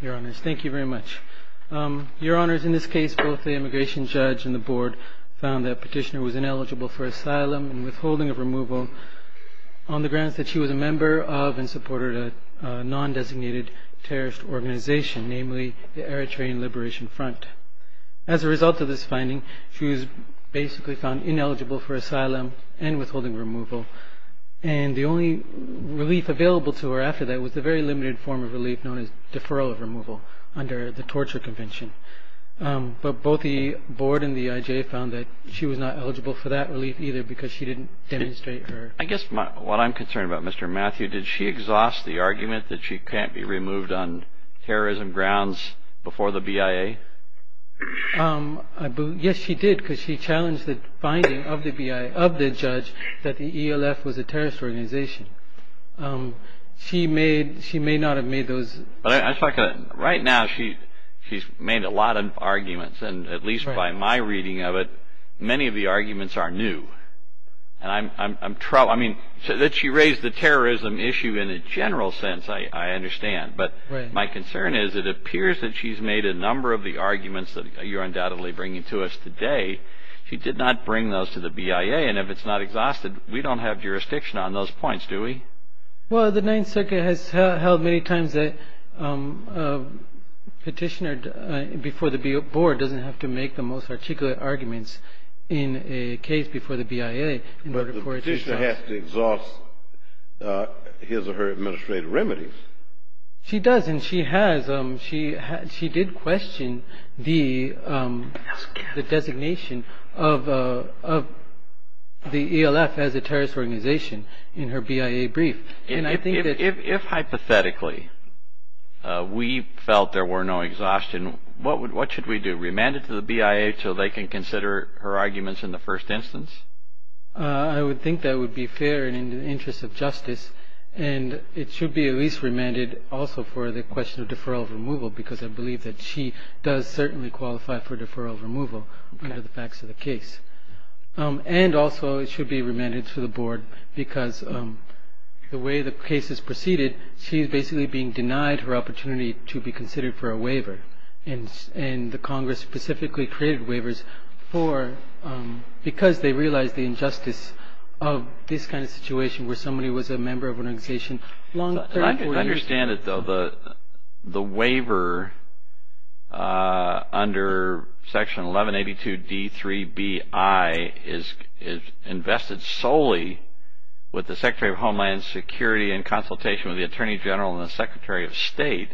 Your Honours, in this case, both the immigration judge and the board found that Petitioner was ineligible for asylum and withholding of removal on the grounds that she was a member of and supported a non-designated terrorist organization, namely the Eritrean Liberation Front. As a result of this finding, she was basically found ineligible for asylum and withholding removal, and the only relief available to her after that was the very limited form of relief known as deferral of removal under the Torture Convention. But both the board and the IJ found that she was not eligible for that relief either because she didn't demonstrate her... Yes, she did because she challenged the finding of the judge that the ELF was a terrorist organization. She may not have made those... Right now, she's made a lot of arguments, and at least by my reading of it, many of the arguments are new. She raised the terrorism issue in a general sense, I understand, but my concern is it appears that she's made a number of the arguments that you're undoubtedly bringing to us today. She did not bring those to the BIA, and if it's not exhausted, we don't have jurisdiction on those points, do we? Well, the Ninth Circuit has held many times that a petitioner before the board doesn't have to make the most articulate arguments in a case before the BIA... But the petitioner has to exhaust his or her administrative remedies. She does, and she did question the designation of the ELF as a terrorist organization in her BIA brief, and I think that... If hypothetically we felt there were no exhaustion, what should we do? Remand it to the BIA so they can consider her arguments in the first instance? I would think that would be fair and in the interest of justice, and it should be at least remanded also for the question of deferral of removal, because I believe that she does certainly qualify for deferral of removal under the facts of the case. And also, it should be remanded to the board because the way the case is proceeded, she's basically being denied her opportunity to be considered for a waiver. And the Congress specifically created waivers for... Because they realized the injustice of this kind of situation where somebody was a member of an organization... I can understand it, though. The waiver under Section 1182 D3BI is invested solely with the Secretary of Homeland Security in consultation with the Attorney General and the Secretary of State.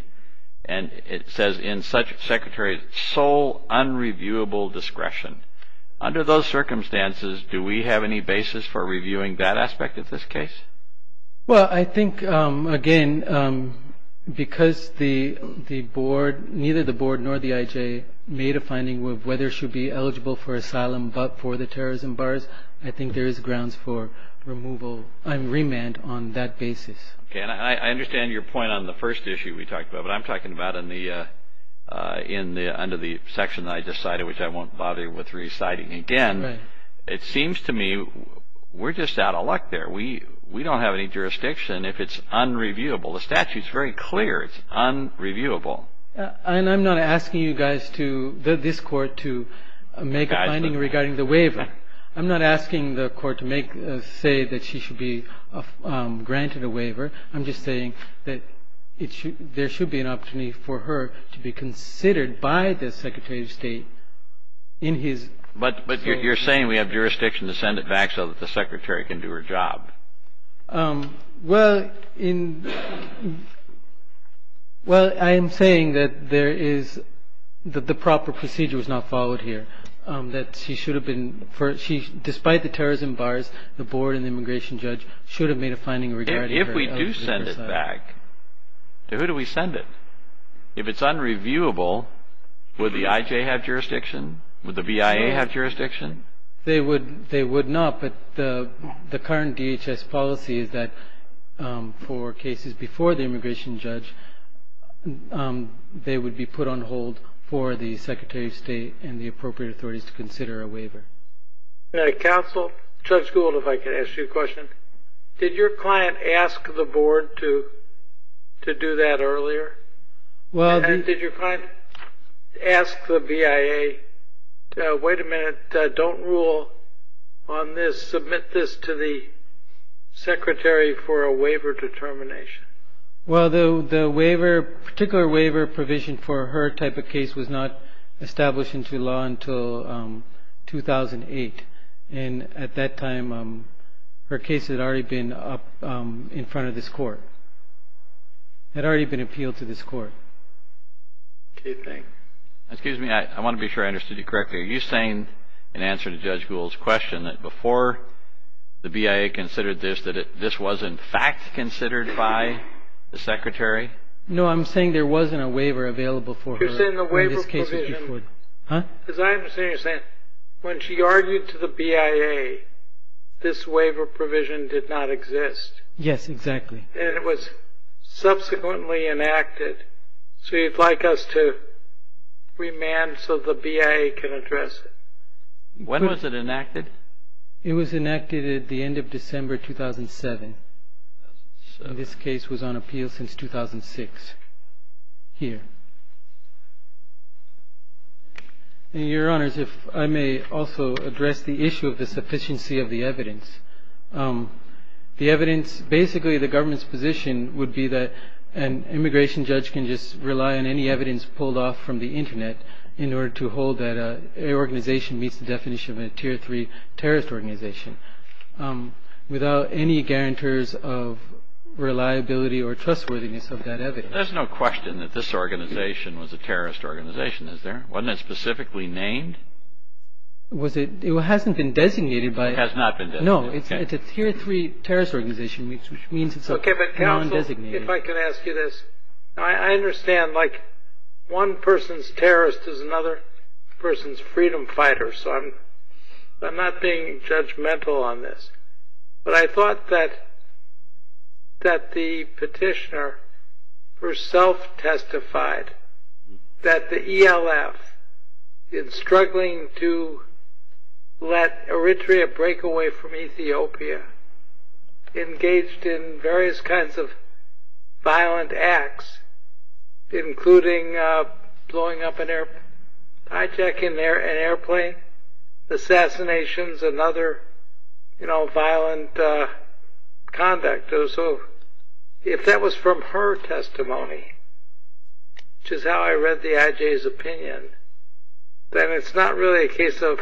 And it says in such... Secretary's sole unreviewable discretion. Under those circumstances, do we have any basis for reviewing that aspect of this case? Well, I think, again, because the board... Neither the board nor the IJ made a finding of whether she'd be eligible for asylum but for the terrorism bars, I think there is grounds for removal... Remand on that basis. Okay. And I understand your point on the first issue we talked about. But I'm talking about under the section that I just cited, which I won't bother with reciting again. It seems to me we're just out of luck there. We don't have any jurisdiction if it's unreviewable. The statute's very clear. It's unreviewable. And I'm not asking you guys to... This Court to make a finding regarding the waiver. I'm not asking the Court to say that she should be granted a waiver. I'm just saying that there should be an opportunity for her to be considered by the Secretary of State in his... But you're saying we have jurisdiction to send it back so that the Secretary can do her job. Well, in... Well, I am saying that there is... The proper procedure was not followed here. That she should have been... Despite the terrorism bars, the Board and the immigration judge should have made a finding regarding her... If we do send it back, who do we send it? If it's unreviewable, would the IJ have jurisdiction? Would the BIA have jurisdiction? They would not. But the current DHS policy is that for cases before the immigration judge, they would be put on hold for the Secretary of State and the appropriate authorities to consider a waiver. Counsel, Judge Gould, if I could ask you a question. Did your client ask the Board to do that earlier? Did your client ask the BIA, Wait a minute. Don't rule on this. Submit this to the Secretary for a waiver determination. Well, the particular waiver provision for her type of case was not established into law until 2008. And at that time, her case had already been up in front of this court. It had already been appealed to this court. Okay, thanks. Excuse me, I want to be sure I understood you correctly. Are you saying in answer to Judge Gould's question that before the BIA considered this, that this was in fact considered by the Secretary? No, I'm saying there wasn't a waiver available for her in this case. You're saying the waiver provision... Huh? As I understand, you're saying when she argued to the BIA, this waiver provision did not exist. Yes, exactly. And it was subsequently enacted. So you'd like us to remand so the BIA can address it? When was it enacted? It was enacted at the end of December 2007. So this case was on appeal since 2006 here. Your Honors, if I may also address the issue of the sufficiency of the evidence. The evidence, basically the government's position would be that an immigration judge can just rely on any evidence pulled off from the Internet in order to hold that an organization meets the definition of a Tier 3 terrorist organization without any guarantors of reliability or trustworthiness of that evidence. There's no question that this organization was a terrorist organization, is there? Wasn't it specifically named? It hasn't been designated by... No, it's a Tier 3 terrorist organization, which means it's now undesignated. Okay, but counsel, if I could ask you this. I understand, like, one person's terrorist is another person's freedom fighter, so I'm not being judgmental on this. But I thought that the petitioner herself testified that the ELF, in struggling to let Eritrea break away from Ethiopia, engaged in various kinds of violent acts, including blowing up an airplane, hijacking an airplane, assassinations and other violent conduct. So if that was from her testimony, which is how I read the IJ's opinion, then it's not really a case of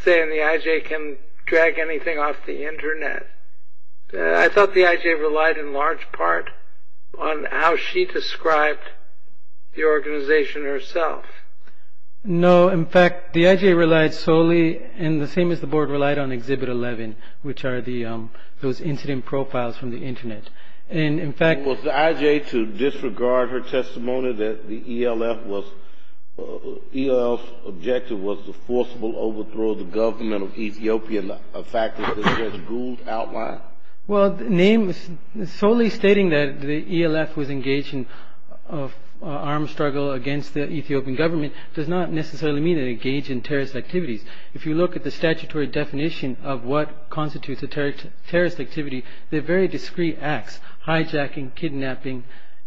saying the IJ can drag anything off the Internet. I thought the IJ relied in large part on how she described the organization herself. No, in fact, the IJ relied solely, and the same as the Board, relied on Exhibit 11, which are those incident profiles from the Internet. And, in fact... Was the IJ, to disregard her testimony that the ELF objective was the forcible overthrow of the government of Ethiopia, a fact that Judge Gould outlined? Well, solely stating that the ELF was engaged in armed struggle against the Ethiopian government does not necessarily mean it engaged in terrorist activities. If you look at the statutory definition of what constitutes a terrorist activity, they're very discreet acts, hijacking, kidnapping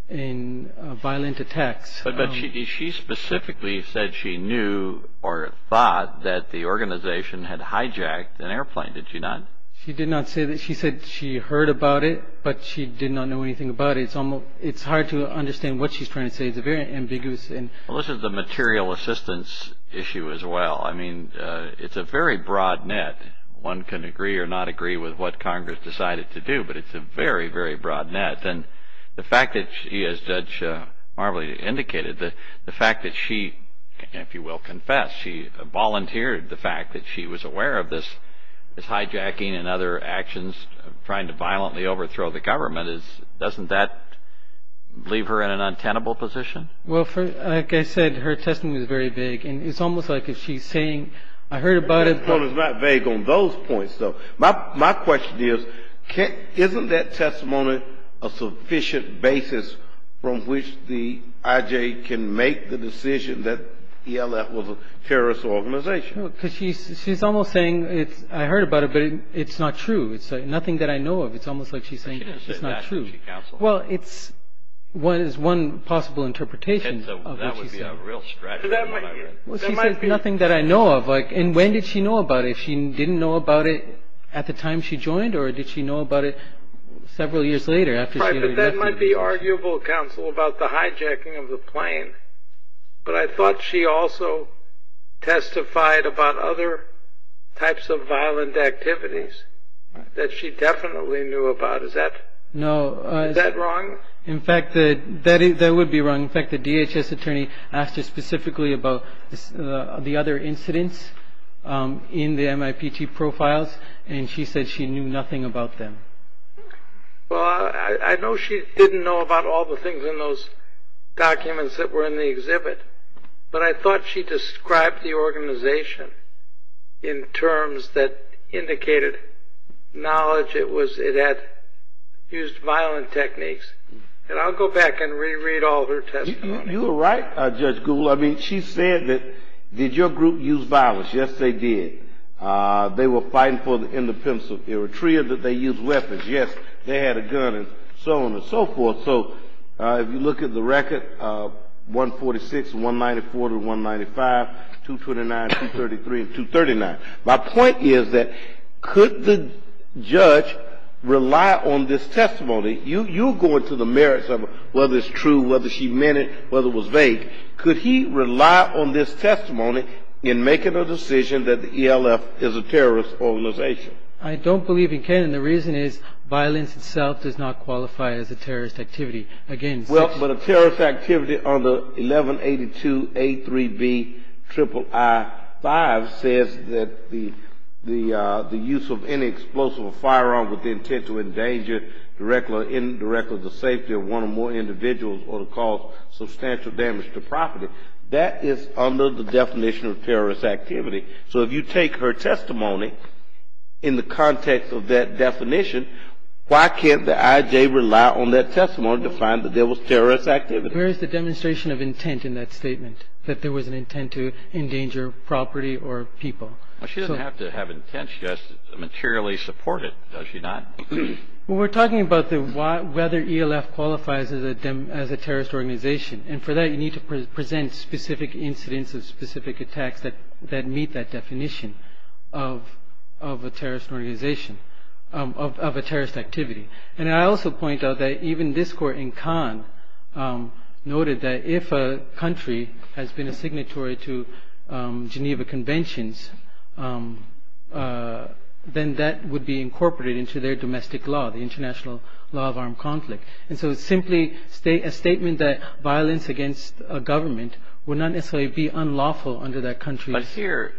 and violent attacks. But she specifically said she knew or thought that the organization had hijacked an airplane. Did she not? She did not say that. She said she heard about it, but she did not know anything about it. It's hard to understand what she's trying to say. It's very ambiguous. This is the material assistance issue as well. I mean, it's a very broad net. One can agree or not agree with what Congress decided to do, but it's a very, very broad net. And the fact that she, as Judge Marbley indicated, the fact that she, if you will confess, she volunteered the fact that she was aware of this hijacking and other actions, trying to violently overthrow the government, doesn't that leave her in an untenable position? Well, like I said, her testimony was very big. And it's almost like if she's saying, I heard about it. Well, it's not vague on those points, though. My question is, isn't that testimony a sufficient basis from which the IJ can make the decision that ELF was a terrorist organization? Because she's almost saying, I heard about it, but it's not true. It's nothing that I know of. It's almost like she's saying it's not true. Well, it's one possible interpretation of what she said. Well, she says nothing that I know of. And when did she know about it? She didn't know about it at the time she joined, or did she know about it several years later? But that might be arguable, counsel, about the hijacking of the plane. But I thought she also testified about other types of violent activities that she definitely knew about. Is that wrong? In fact, that would be wrong. In fact, the DHS attorney asked her specifically about the other incidents in the MIPT profiles, and she said she knew nothing about them. Well, I know she didn't know about all the things in those documents that were in the exhibit, but I thought she described the organization in terms that indicated knowledge it had used violent techniques. And I'll go back and reread all her testimony. You were right, Judge Gould. I mean, she said that, did your group use violence? Yes, they did. They were fighting for independence of Eritrea. Did they use weapons? Yes. They had a gun and so on and so forth. So if you look at the record, 146, 194, 195, 229, 233, and 239. My point is that could the judge rely on this testimony? You're going to the merits of whether it's true, whether she meant it, whether it was vague. Could he rely on this testimony in making a decision that the ELF is a terrorist organization? I don't believe he can, and the reason is violence itself does not qualify as a terrorist activity. Well, but a terrorist activity under 1182A3B III-5 says that the use of any explosive or firearm with the intent to endanger directly or indirectly the safety of one or more individuals or to cause substantial damage to property. That is under the definition of terrorist activity. So if you take her testimony in the context of that definition, why can't the IJ rely on that testimony to find that there was terrorist activity? Where is the demonstration of intent in that statement, that there was an intent to endanger property or people? Well, she doesn't have to have intent. She has to materially support it, does she not? Well, we're talking about whether ELF qualifies as a terrorist organization, and for that you need to present specific incidents of specific attacks that meet that definition of a terrorist organization, of a terrorist activity. And I also point out that even this court in Cannes noted that if a country has been a signatory to Geneva Conventions, then that would be incorporated into their domestic law, the International Law of Armed Conflict. And so it's simply a statement that violence against a government would not necessarily be unlawful under that country. I'm sorry,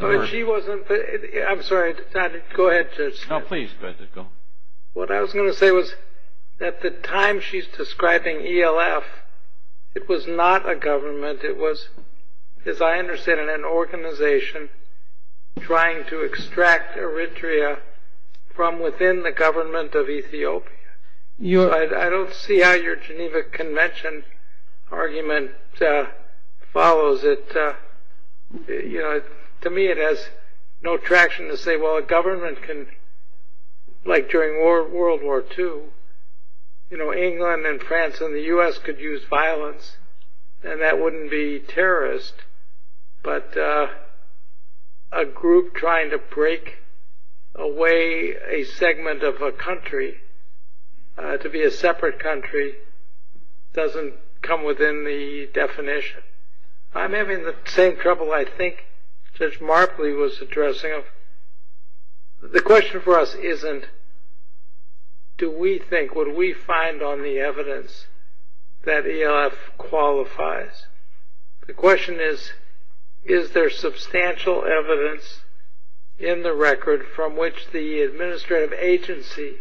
go ahead. No, please, go ahead. What I was going to say was at the time she's describing ELF, it was not a government. It was, as I understand it, an organization trying to extract Eritrea from within the government of Ethiopia. I don't see how your Geneva Convention argument follows it. To me it has no traction to say, well, a government can, like during World War II, England and France and the U.S. could use violence and that wouldn't be terrorist, but a group trying to break away a segment of a country to be a separate country doesn't come within the definition. I'm having the same trouble I think Judge Marpley was addressing. The question for us isn't, do we think, would we find on the evidence that ELF qualifies? The question is, is there substantial evidence in the record from which the administrative agency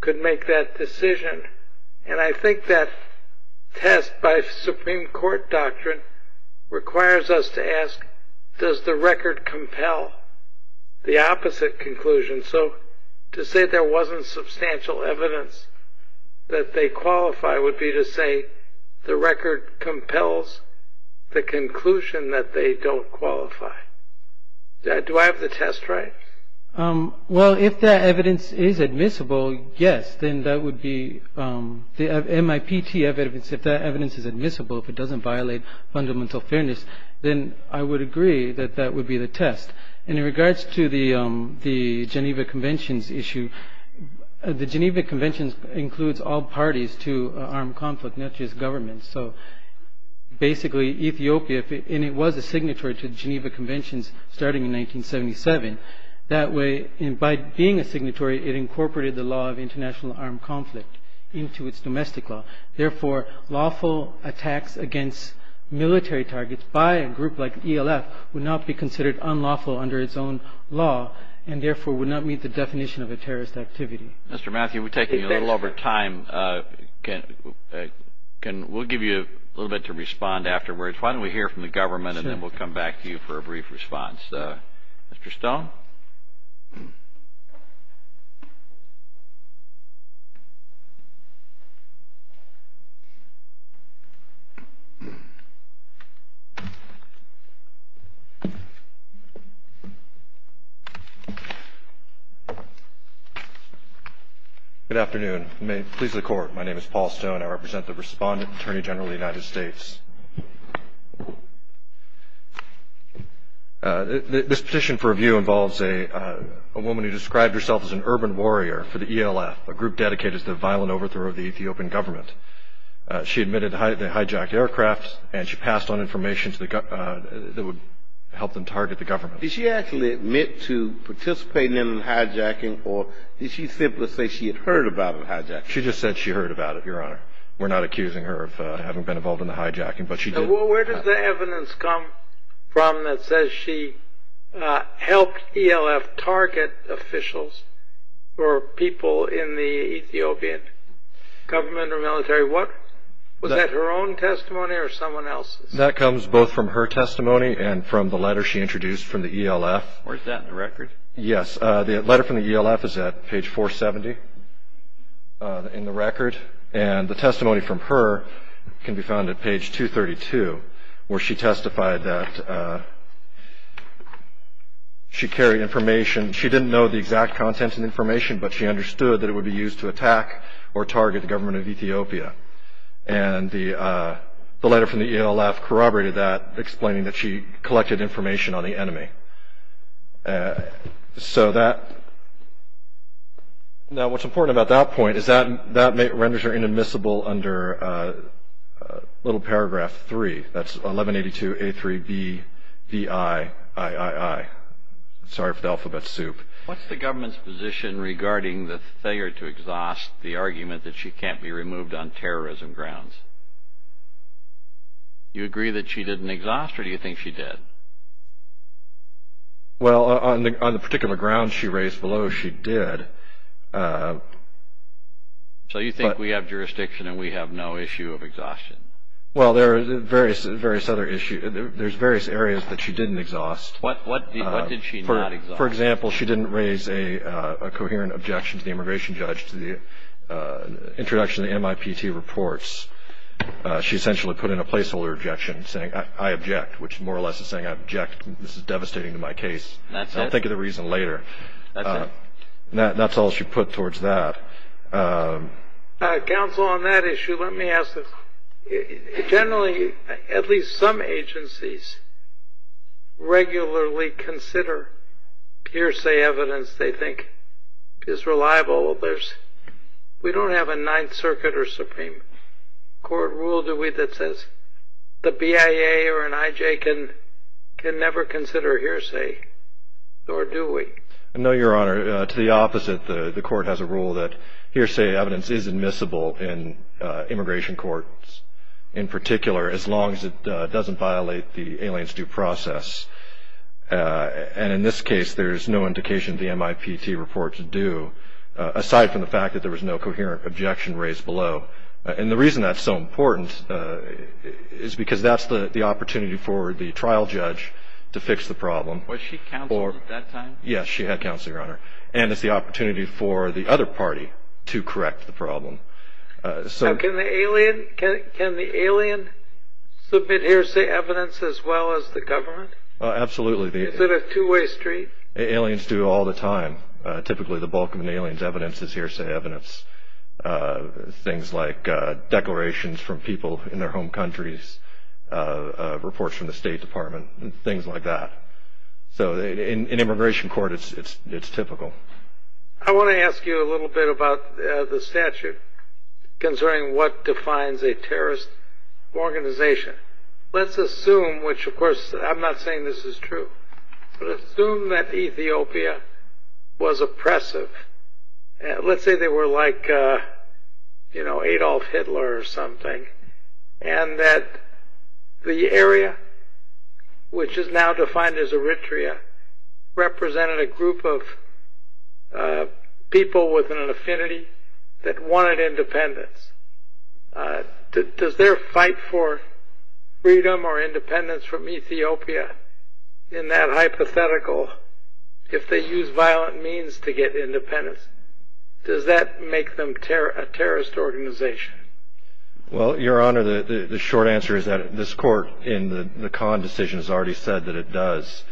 could make that decision? And I think that test by Supreme Court doctrine requires us to ask, does the record compel the opposite conclusion? So to say there wasn't substantial evidence that they qualify would be to say the record compels the conclusion that they don't qualify. Do I have the test right? Well, if that evidence is admissible, yes, then that would be the MIPT evidence. If that evidence is admissible, if it doesn't violate fundamental fairness, then I would agree that that would be the test. And in regards to the Geneva Conventions issue, the Geneva Conventions includes all parties to armed conflict, not just governments. So basically Ethiopia, and it was a signatory to Geneva Conventions starting in 1977, that way by being a signatory it incorporated the law of international armed conflict into its domestic law. Therefore, lawful attacks against military targets by a group like ELF would not be considered unlawful under its own law, and therefore would not meet the definition of a terrorist activity. Mr. Matthew, we're taking a little over time. We'll give you a little bit to respond afterwards. Why don't we hear from the government and then we'll come back to you for a brief response. Mr. Stone. Good afternoon. May it please the Court, my name is Paul Stone. I represent the Respondent Attorney General of the United States. This petition for review involves a woman who described herself as an urban warrior for the ELF, a group dedicated to the violent overthrow of the Ethiopian government. She admitted they hijacked aircraft and she passed on information that would help them target the government. Did she actually admit to participating in the hijacking or did she simply say she had heard about the hijacking? She just said she heard about it, Your Honor. We're not accusing her of having been involved in the hijacking, but she did. Where does the evidence come from that says she helped ELF target officials or people in the Ethiopian government or military? Was that her own testimony or someone else's? That comes both from her testimony and from the letter she introduced from the ELF. Where's that in the record? Yes, the letter from the ELF is at page 470 in the record, and the testimony from her can be found at page 232 where she testified that she carried information. She didn't know the exact contents of the information, but she understood that it would be used to attack or target the government of Ethiopia. And the letter from the ELF corroborated that, explaining that she collected information on the enemy. Now, what's important about that point is that renders her inadmissible under little paragraph 3. That's 1182A3BVIIII. Sorry for the alphabet soup. What's the government's position regarding the failure to exhaust the argument that she can't be removed on terrorism grounds? Do you agree that she didn't exhaust or do you think she did? Well, on the particular grounds she raised below, she did. So you think we have jurisdiction and we have no issue of exhaustion? Well, there are various other issues. There's various areas that she didn't exhaust. What did she not exhaust? Well, for example, she didn't raise a coherent objection to the immigration judge to the introduction of the MIPT reports. She essentially put in a placeholder objection saying, I object, which more or less is saying, I object. This is devastating to my case. That's it? I'll think of the reason later. That's it? That's all she put towards that. Counsel, on that issue, let me ask this. Generally, at least some agencies regularly consider hearsay evidence they think is reliable. We don't have a Ninth Circuit or Supreme Court rule, do we, that says the BIA or an IJ can never consider hearsay, nor do we. No, Your Honor. To the opposite, the Court has a rule that hearsay evidence is admissible in immigration courts in particular, as long as it doesn't violate the alien's due process. And in this case, there's no indication the MIPT reports do, aside from the fact that there was no coherent objection raised below. And the reason that's so important is because that's the opportunity for the trial judge to fix the problem. Was she counseled at that time? Yes, she had, Counselor, Your Honor. And it's the opportunity for the other party to correct the problem. Can the alien submit hearsay evidence as well as the government? Absolutely. Is it a two-way street? Aliens do all the time. Typically, the bulk of an alien's evidence is hearsay evidence. Things like declarations from people in their home countries, reports from the State Department, things like that. So in immigration court, it's typical. I want to ask you a little bit about the statute concerning what defines a terrorist organization. Let's assume, which, of course, I'm not saying this is true, but assume that Ethiopia was oppressive. Let's say they were like Adolf Hitler or something, and that the area, which is now defined as Eritrea, represented a group of people within an affinity that wanted independence. Does their fight for freedom or independence from Ethiopia, in that hypothetical, if they use violent means to get independence, does that make them a terrorist organization? Well, Your Honor, the short answer is that this court in the Kahn decision has already said that it does.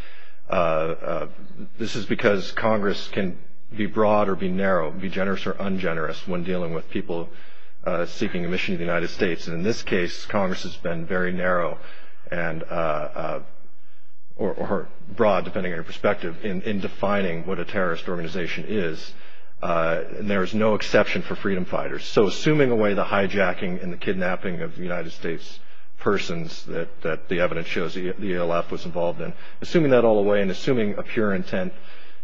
This is because Congress can be broad or be narrow, be generous or ungenerous, when dealing with people seeking admission to the United States. And in this case, Congress has been very narrow or broad, depending on your perspective, in defining what a terrorist organization is. And there is no exception for freedom fighters. So assuming away the hijacking and the kidnapping of United States persons that the evidence shows the ALF was involved in, assuming that all the way and assuming a pure intent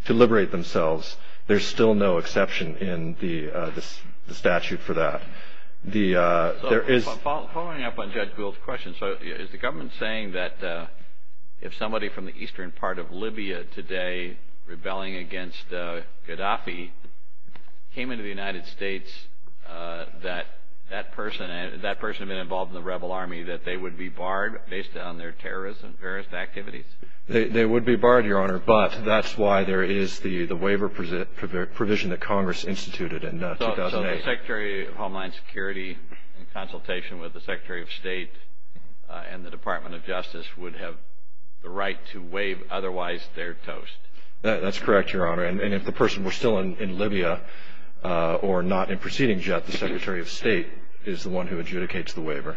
to liberate themselves, there's still no exception in the statute for that. Following up on Judge Gould's question, is the government saying that if somebody from the eastern part of Libya today rebelling against Gaddafi came into the United States, that that person had been involved in the rebel army, that they would be barred based on their terrorism and various activities? They would be barred, Your Honor, but that's why there is the waiver provision that Congress instituted in 2008. So the Secretary of Homeland Security, in consultation with the Secretary of State and the Department of Justice, would have the right to waive otherwise their toast? That's correct, Your Honor. And if the person were still in Libya or not in proceeding yet, the Secretary of State is the one who adjudicates the waiver.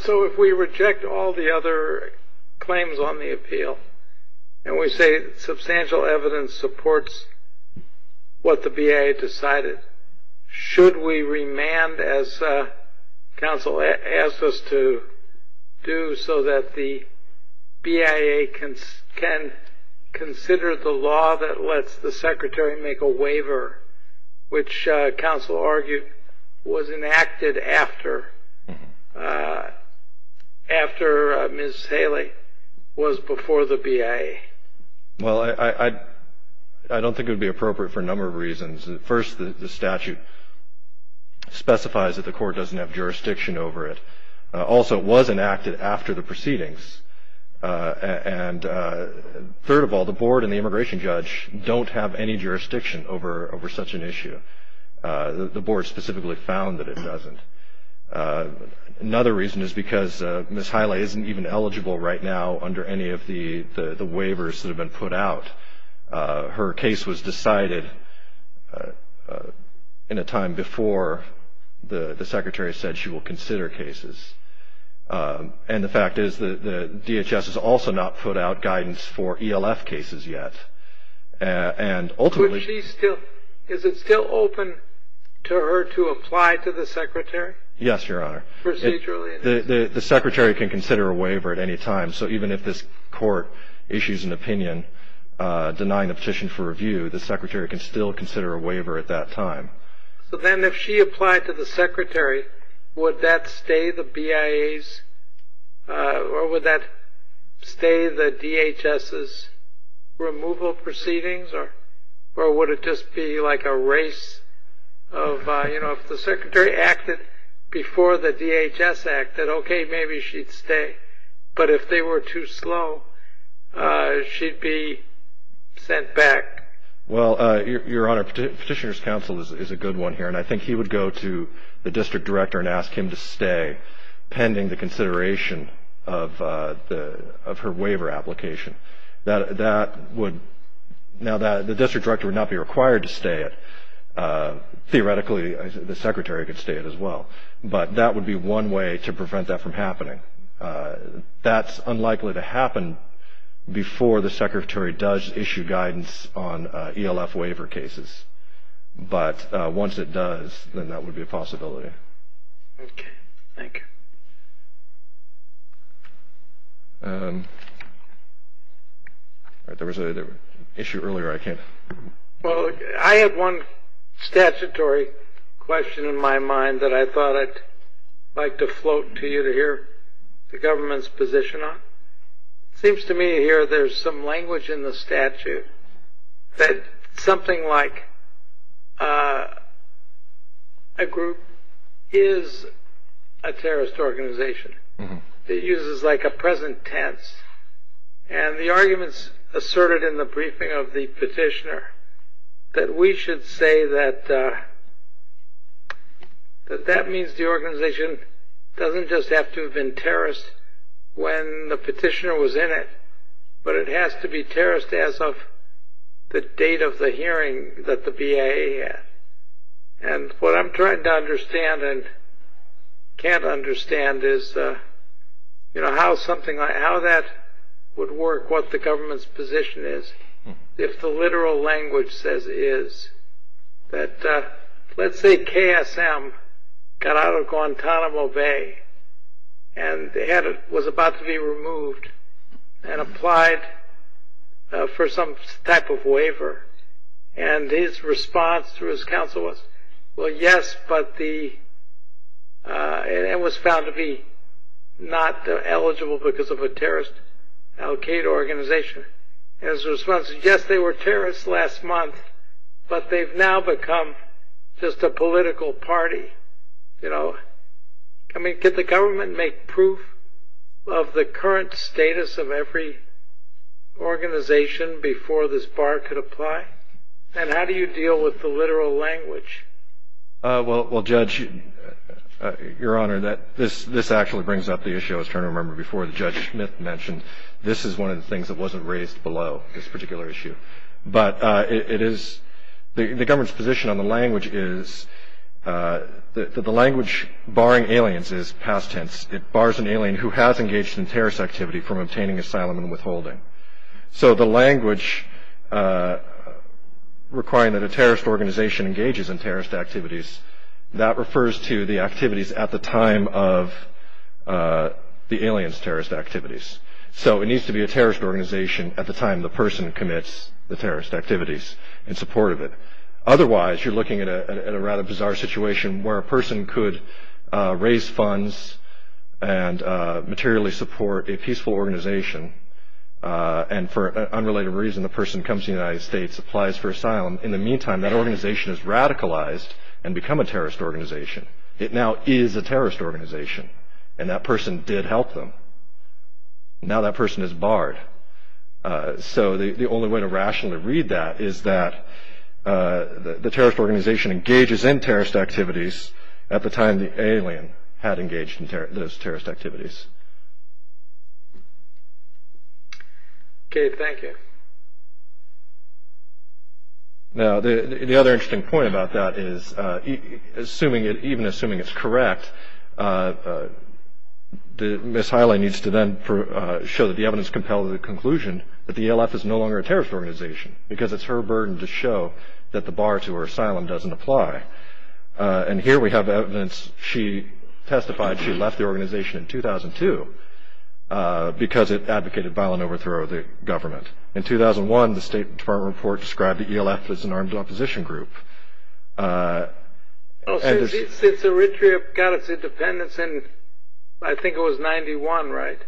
So if we reject all the other claims on the appeal and we say substantial evidence supports what the BIA decided, should we remand, as counsel asked us to do, so that the BIA can consider the law that lets the Secretary make a waiver, which counsel argued was enacted after Ms. Haley was before the BIA? Well, I don't think it would be appropriate for a number of reasons. First, the statute specifies that the court doesn't have jurisdiction over it. Also, it was enacted after the proceedings. And third of all, the board and the immigration judge don't have any jurisdiction over such an issue. The board specifically found that it doesn't. Another reason is because Ms. Haley isn't even eligible right now under any of the waivers that have been put out. Her case was decided in a time before the Secretary said she will consider cases. And the fact is the DHS has also not put out guidance for ELF cases yet. And ultimately- Is it still open to her to apply to the Secretary? Yes, Your Honor. Procedurally? The Secretary can consider a waiver at any time. So even if this court issues an opinion denying the petition for review, the Secretary can still consider a waiver at that time. So then if she applied to the Secretary, would that stay the BIA's or would that stay the DHS's removal proceedings? Or would it just be like a race of, you know, if the Secretary acted before the DHS acted, okay, maybe she'd stay. But if they were too slow, she'd be sent back. Well, Your Honor, Petitioner's Counsel is a good one here. And I think he would go to the District Director and ask him to stay pending the consideration of her waiver application. Now, the District Director would not be required to stay it. Theoretically, the Secretary could stay it as well. But that would be one way to prevent that from happening. That's unlikely to happen before the Secretary does issue guidance on ELF waiver cases. But once it does, then that would be a possibility. Okay. Thank you. There was an issue earlier I can't. Well, I have one statutory question in my mind that I thought I'd like to float to you to hear the government's position on. It seems to me here there's some language in the statute that something like a group is a terrorist organization. It uses like a present tense. And the arguments asserted in the briefing of the petitioner that we should say that that means the organization doesn't just have to have been terrorist when the petitioner was in it, but it has to be terrorist as of the date of the hearing that the BIA had. And what I'm trying to understand and can't understand is, you know, how that would work, what the government's position is if the literal language says it is. Let's say KSM got out of Guantanamo Bay and was about to be removed and applied for some type of waiver. And his response to his counsel was, well, yes, but it was found to be not eligible because of a terrorist-allocated organization. And his response is, yes, they were terrorists last month, but they've now become just a political party, you know. I mean, could the government make proof of the current status of every organization before this bar could apply? And how do you deal with the literal language? Well, Judge, Your Honor, this actually brings up the issue I was trying to remember before that Judge Smith mentioned. This is one of the things that wasn't raised below this particular issue. But the government's position on the language is that the language barring aliens is past tense. It bars an alien who has engaged in terrorist activity from obtaining asylum and withholding. So the language requiring that a terrorist organization engages in terrorist activities, that refers to the activities at the time of the alien's terrorist activities. So it needs to be a terrorist organization at the time the person commits the terrorist activities in support of it. Otherwise, you're looking at a rather bizarre situation where a person could raise funds and materially support a peaceful organization and for unrelated reason the person comes to the United States, applies for asylum. In the meantime, that organization is radicalized and become a terrorist organization. It now is a terrorist organization and that person did help them. Now that person is barred. So the only way to rationally read that is that the terrorist organization engages in terrorist activities at the time the alien had engaged in those terrorist activities. Okay, thank you. Now the other interesting point about that is, even assuming it's correct, Ms. Hiley needs to then show that the evidence compels the conclusion that the ALF is no longer a terrorist organization because it's her burden to show that the bar to her asylum doesn't apply. And here we have evidence. She testified she left the organization in 2002 because it advocated violent overthrow of the government. In 2001, the State Department report described the ALF as an armed opposition group. Oh, so it got its independence in, I think it was 91, right?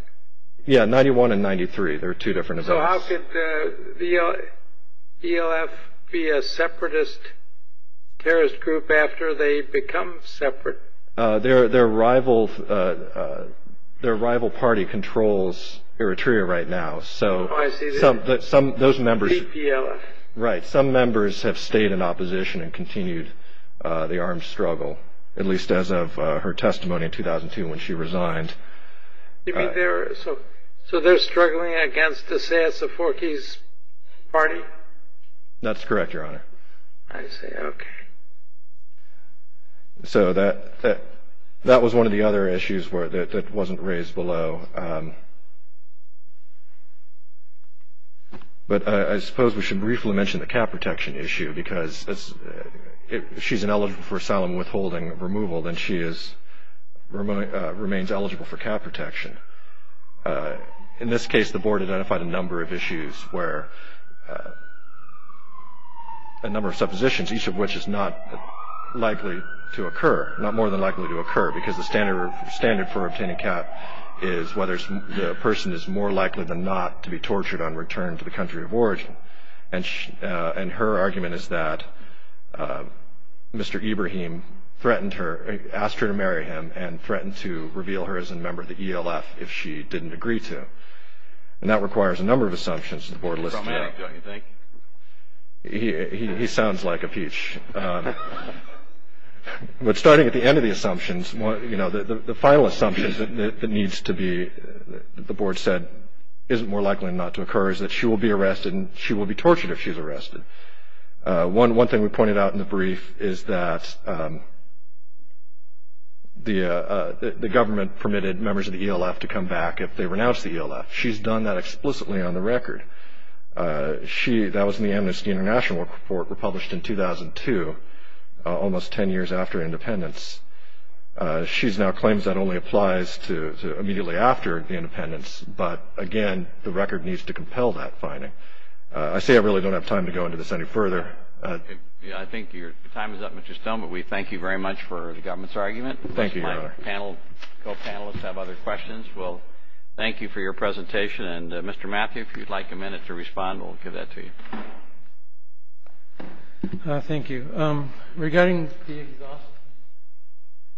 Yeah, 91 and 93. They're two different events. So how could the ALF be a separatist terrorist group after they become separate? Their rival party controls Eritrea right now. Oh, I see. Right, some members have stayed in opposition and continued the armed struggle, at least as of her testimony in 2002 when she resigned. You mean they're struggling against the Seass-Soforkes party? That's correct, Your Honor. I see, okay. So that was one of the other issues that wasn't raised below. But I suppose we should briefly mention the cap protection issue because if she's ineligible for asylum withholding removal, then she remains eligible for cap protection. In this case, the Board identified a number of issues where a number of suppositions, each of which is not likely to occur, not more than likely to occur, because the standard for obtaining a cap is whether the person is more likely than not to be tortured on return to the country of origin. And her argument is that Mr. Ibrahim threatened her, asked her to marry him and threatened to reveal her as a member of the ELF if she didn't agree to. And that requires a number of assumptions that the Board listed. He's a problematic, don't you think? He sounds like a peach. But starting at the end of the assumptions, you know, the final assumptions that needs to be, that the Board said isn't more likely than not to occur is that she will be arrested and she will be tortured if she's arrested. One thing we pointed out in the brief is that the government permitted members of the ELF to come back if they renounce the ELF. She's done that explicitly on the record. That was in the Amnesty International report published in 2002, almost 10 years after independence. She now claims that only applies to immediately after the independence. But, again, the record needs to compel that finding. I say I really don't have time to go into this any further. I think your time is up, Mr. Stone, but we thank you very much for the government's argument. Thank you, Your Honor. My co-panelists have other questions. We'll thank you for your presentation. And, Mr. Matthews, if you'd like a minute to respond, we'll give that to you. Thank you. Regarding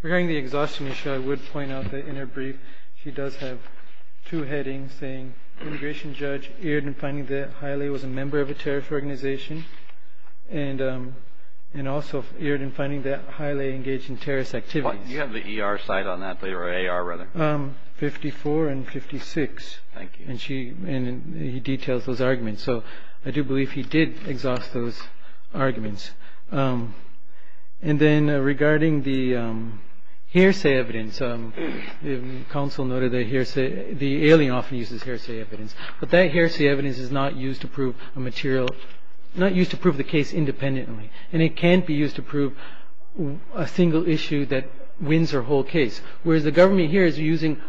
the exhaustion issue, I would point out that in her brief she does have two headings, saying immigration judge erred in finding that Haile was a member of a terrorist organization and also erred in finding that Haile engaged in terrorist activities. You have the ER side on that, or AR, rather. 54 and 56. Thank you. And he details those arguments. So I do believe he did exhaust those arguments. And then regarding the hearsay evidence, the counsel noted the alien often uses hearsay evidence. But that hearsay evidence is not used to prove the case independently, and it can't be used to prove a single issue that wins her whole case. Whereas the government here is using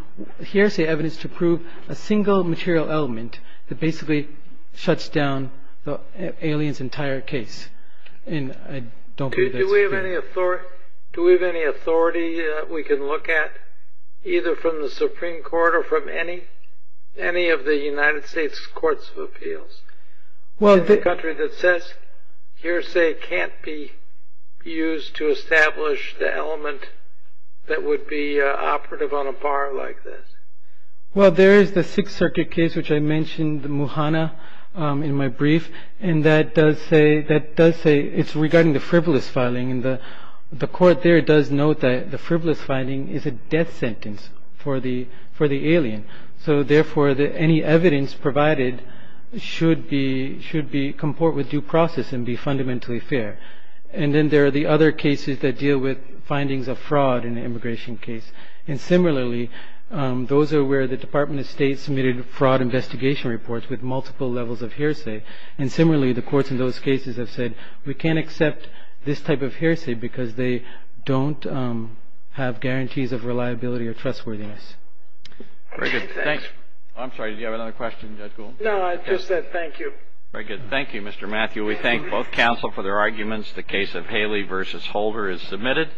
hearsay evidence to prove a single material element that basically shuts down the alien's entire case. Do we have any authority that we can look at, either from the Supreme Court or from any of the United States Courts of Appeals? A country that says hearsay can't be used to establish the element that would be operative on a bar like this? Well, there is the Sixth Circuit case, which I mentioned, the Muhanna, in my brief. And that does say it's regarding the frivolous filing. And the court there does note that the frivolous filing is a death sentence for the alien. So therefore, any evidence provided should comport with due process and be fundamentally fair. And then there are the other cases that deal with findings of fraud in the immigration case. And similarly, those are where the Department of State submitted fraud investigation reports with multiple levels of hearsay. And similarly, the courts in those cases have said we can't accept this type of hearsay because they don't have guarantees of reliability or trustworthiness. Very good. Thanks. I'm sorry, did you have another question, Judge Gould? No, I just said thank you. Very good. Thank you, Mr. Matthew. We thank both counsel for their arguments. The case of Haley v. Holder is submitted.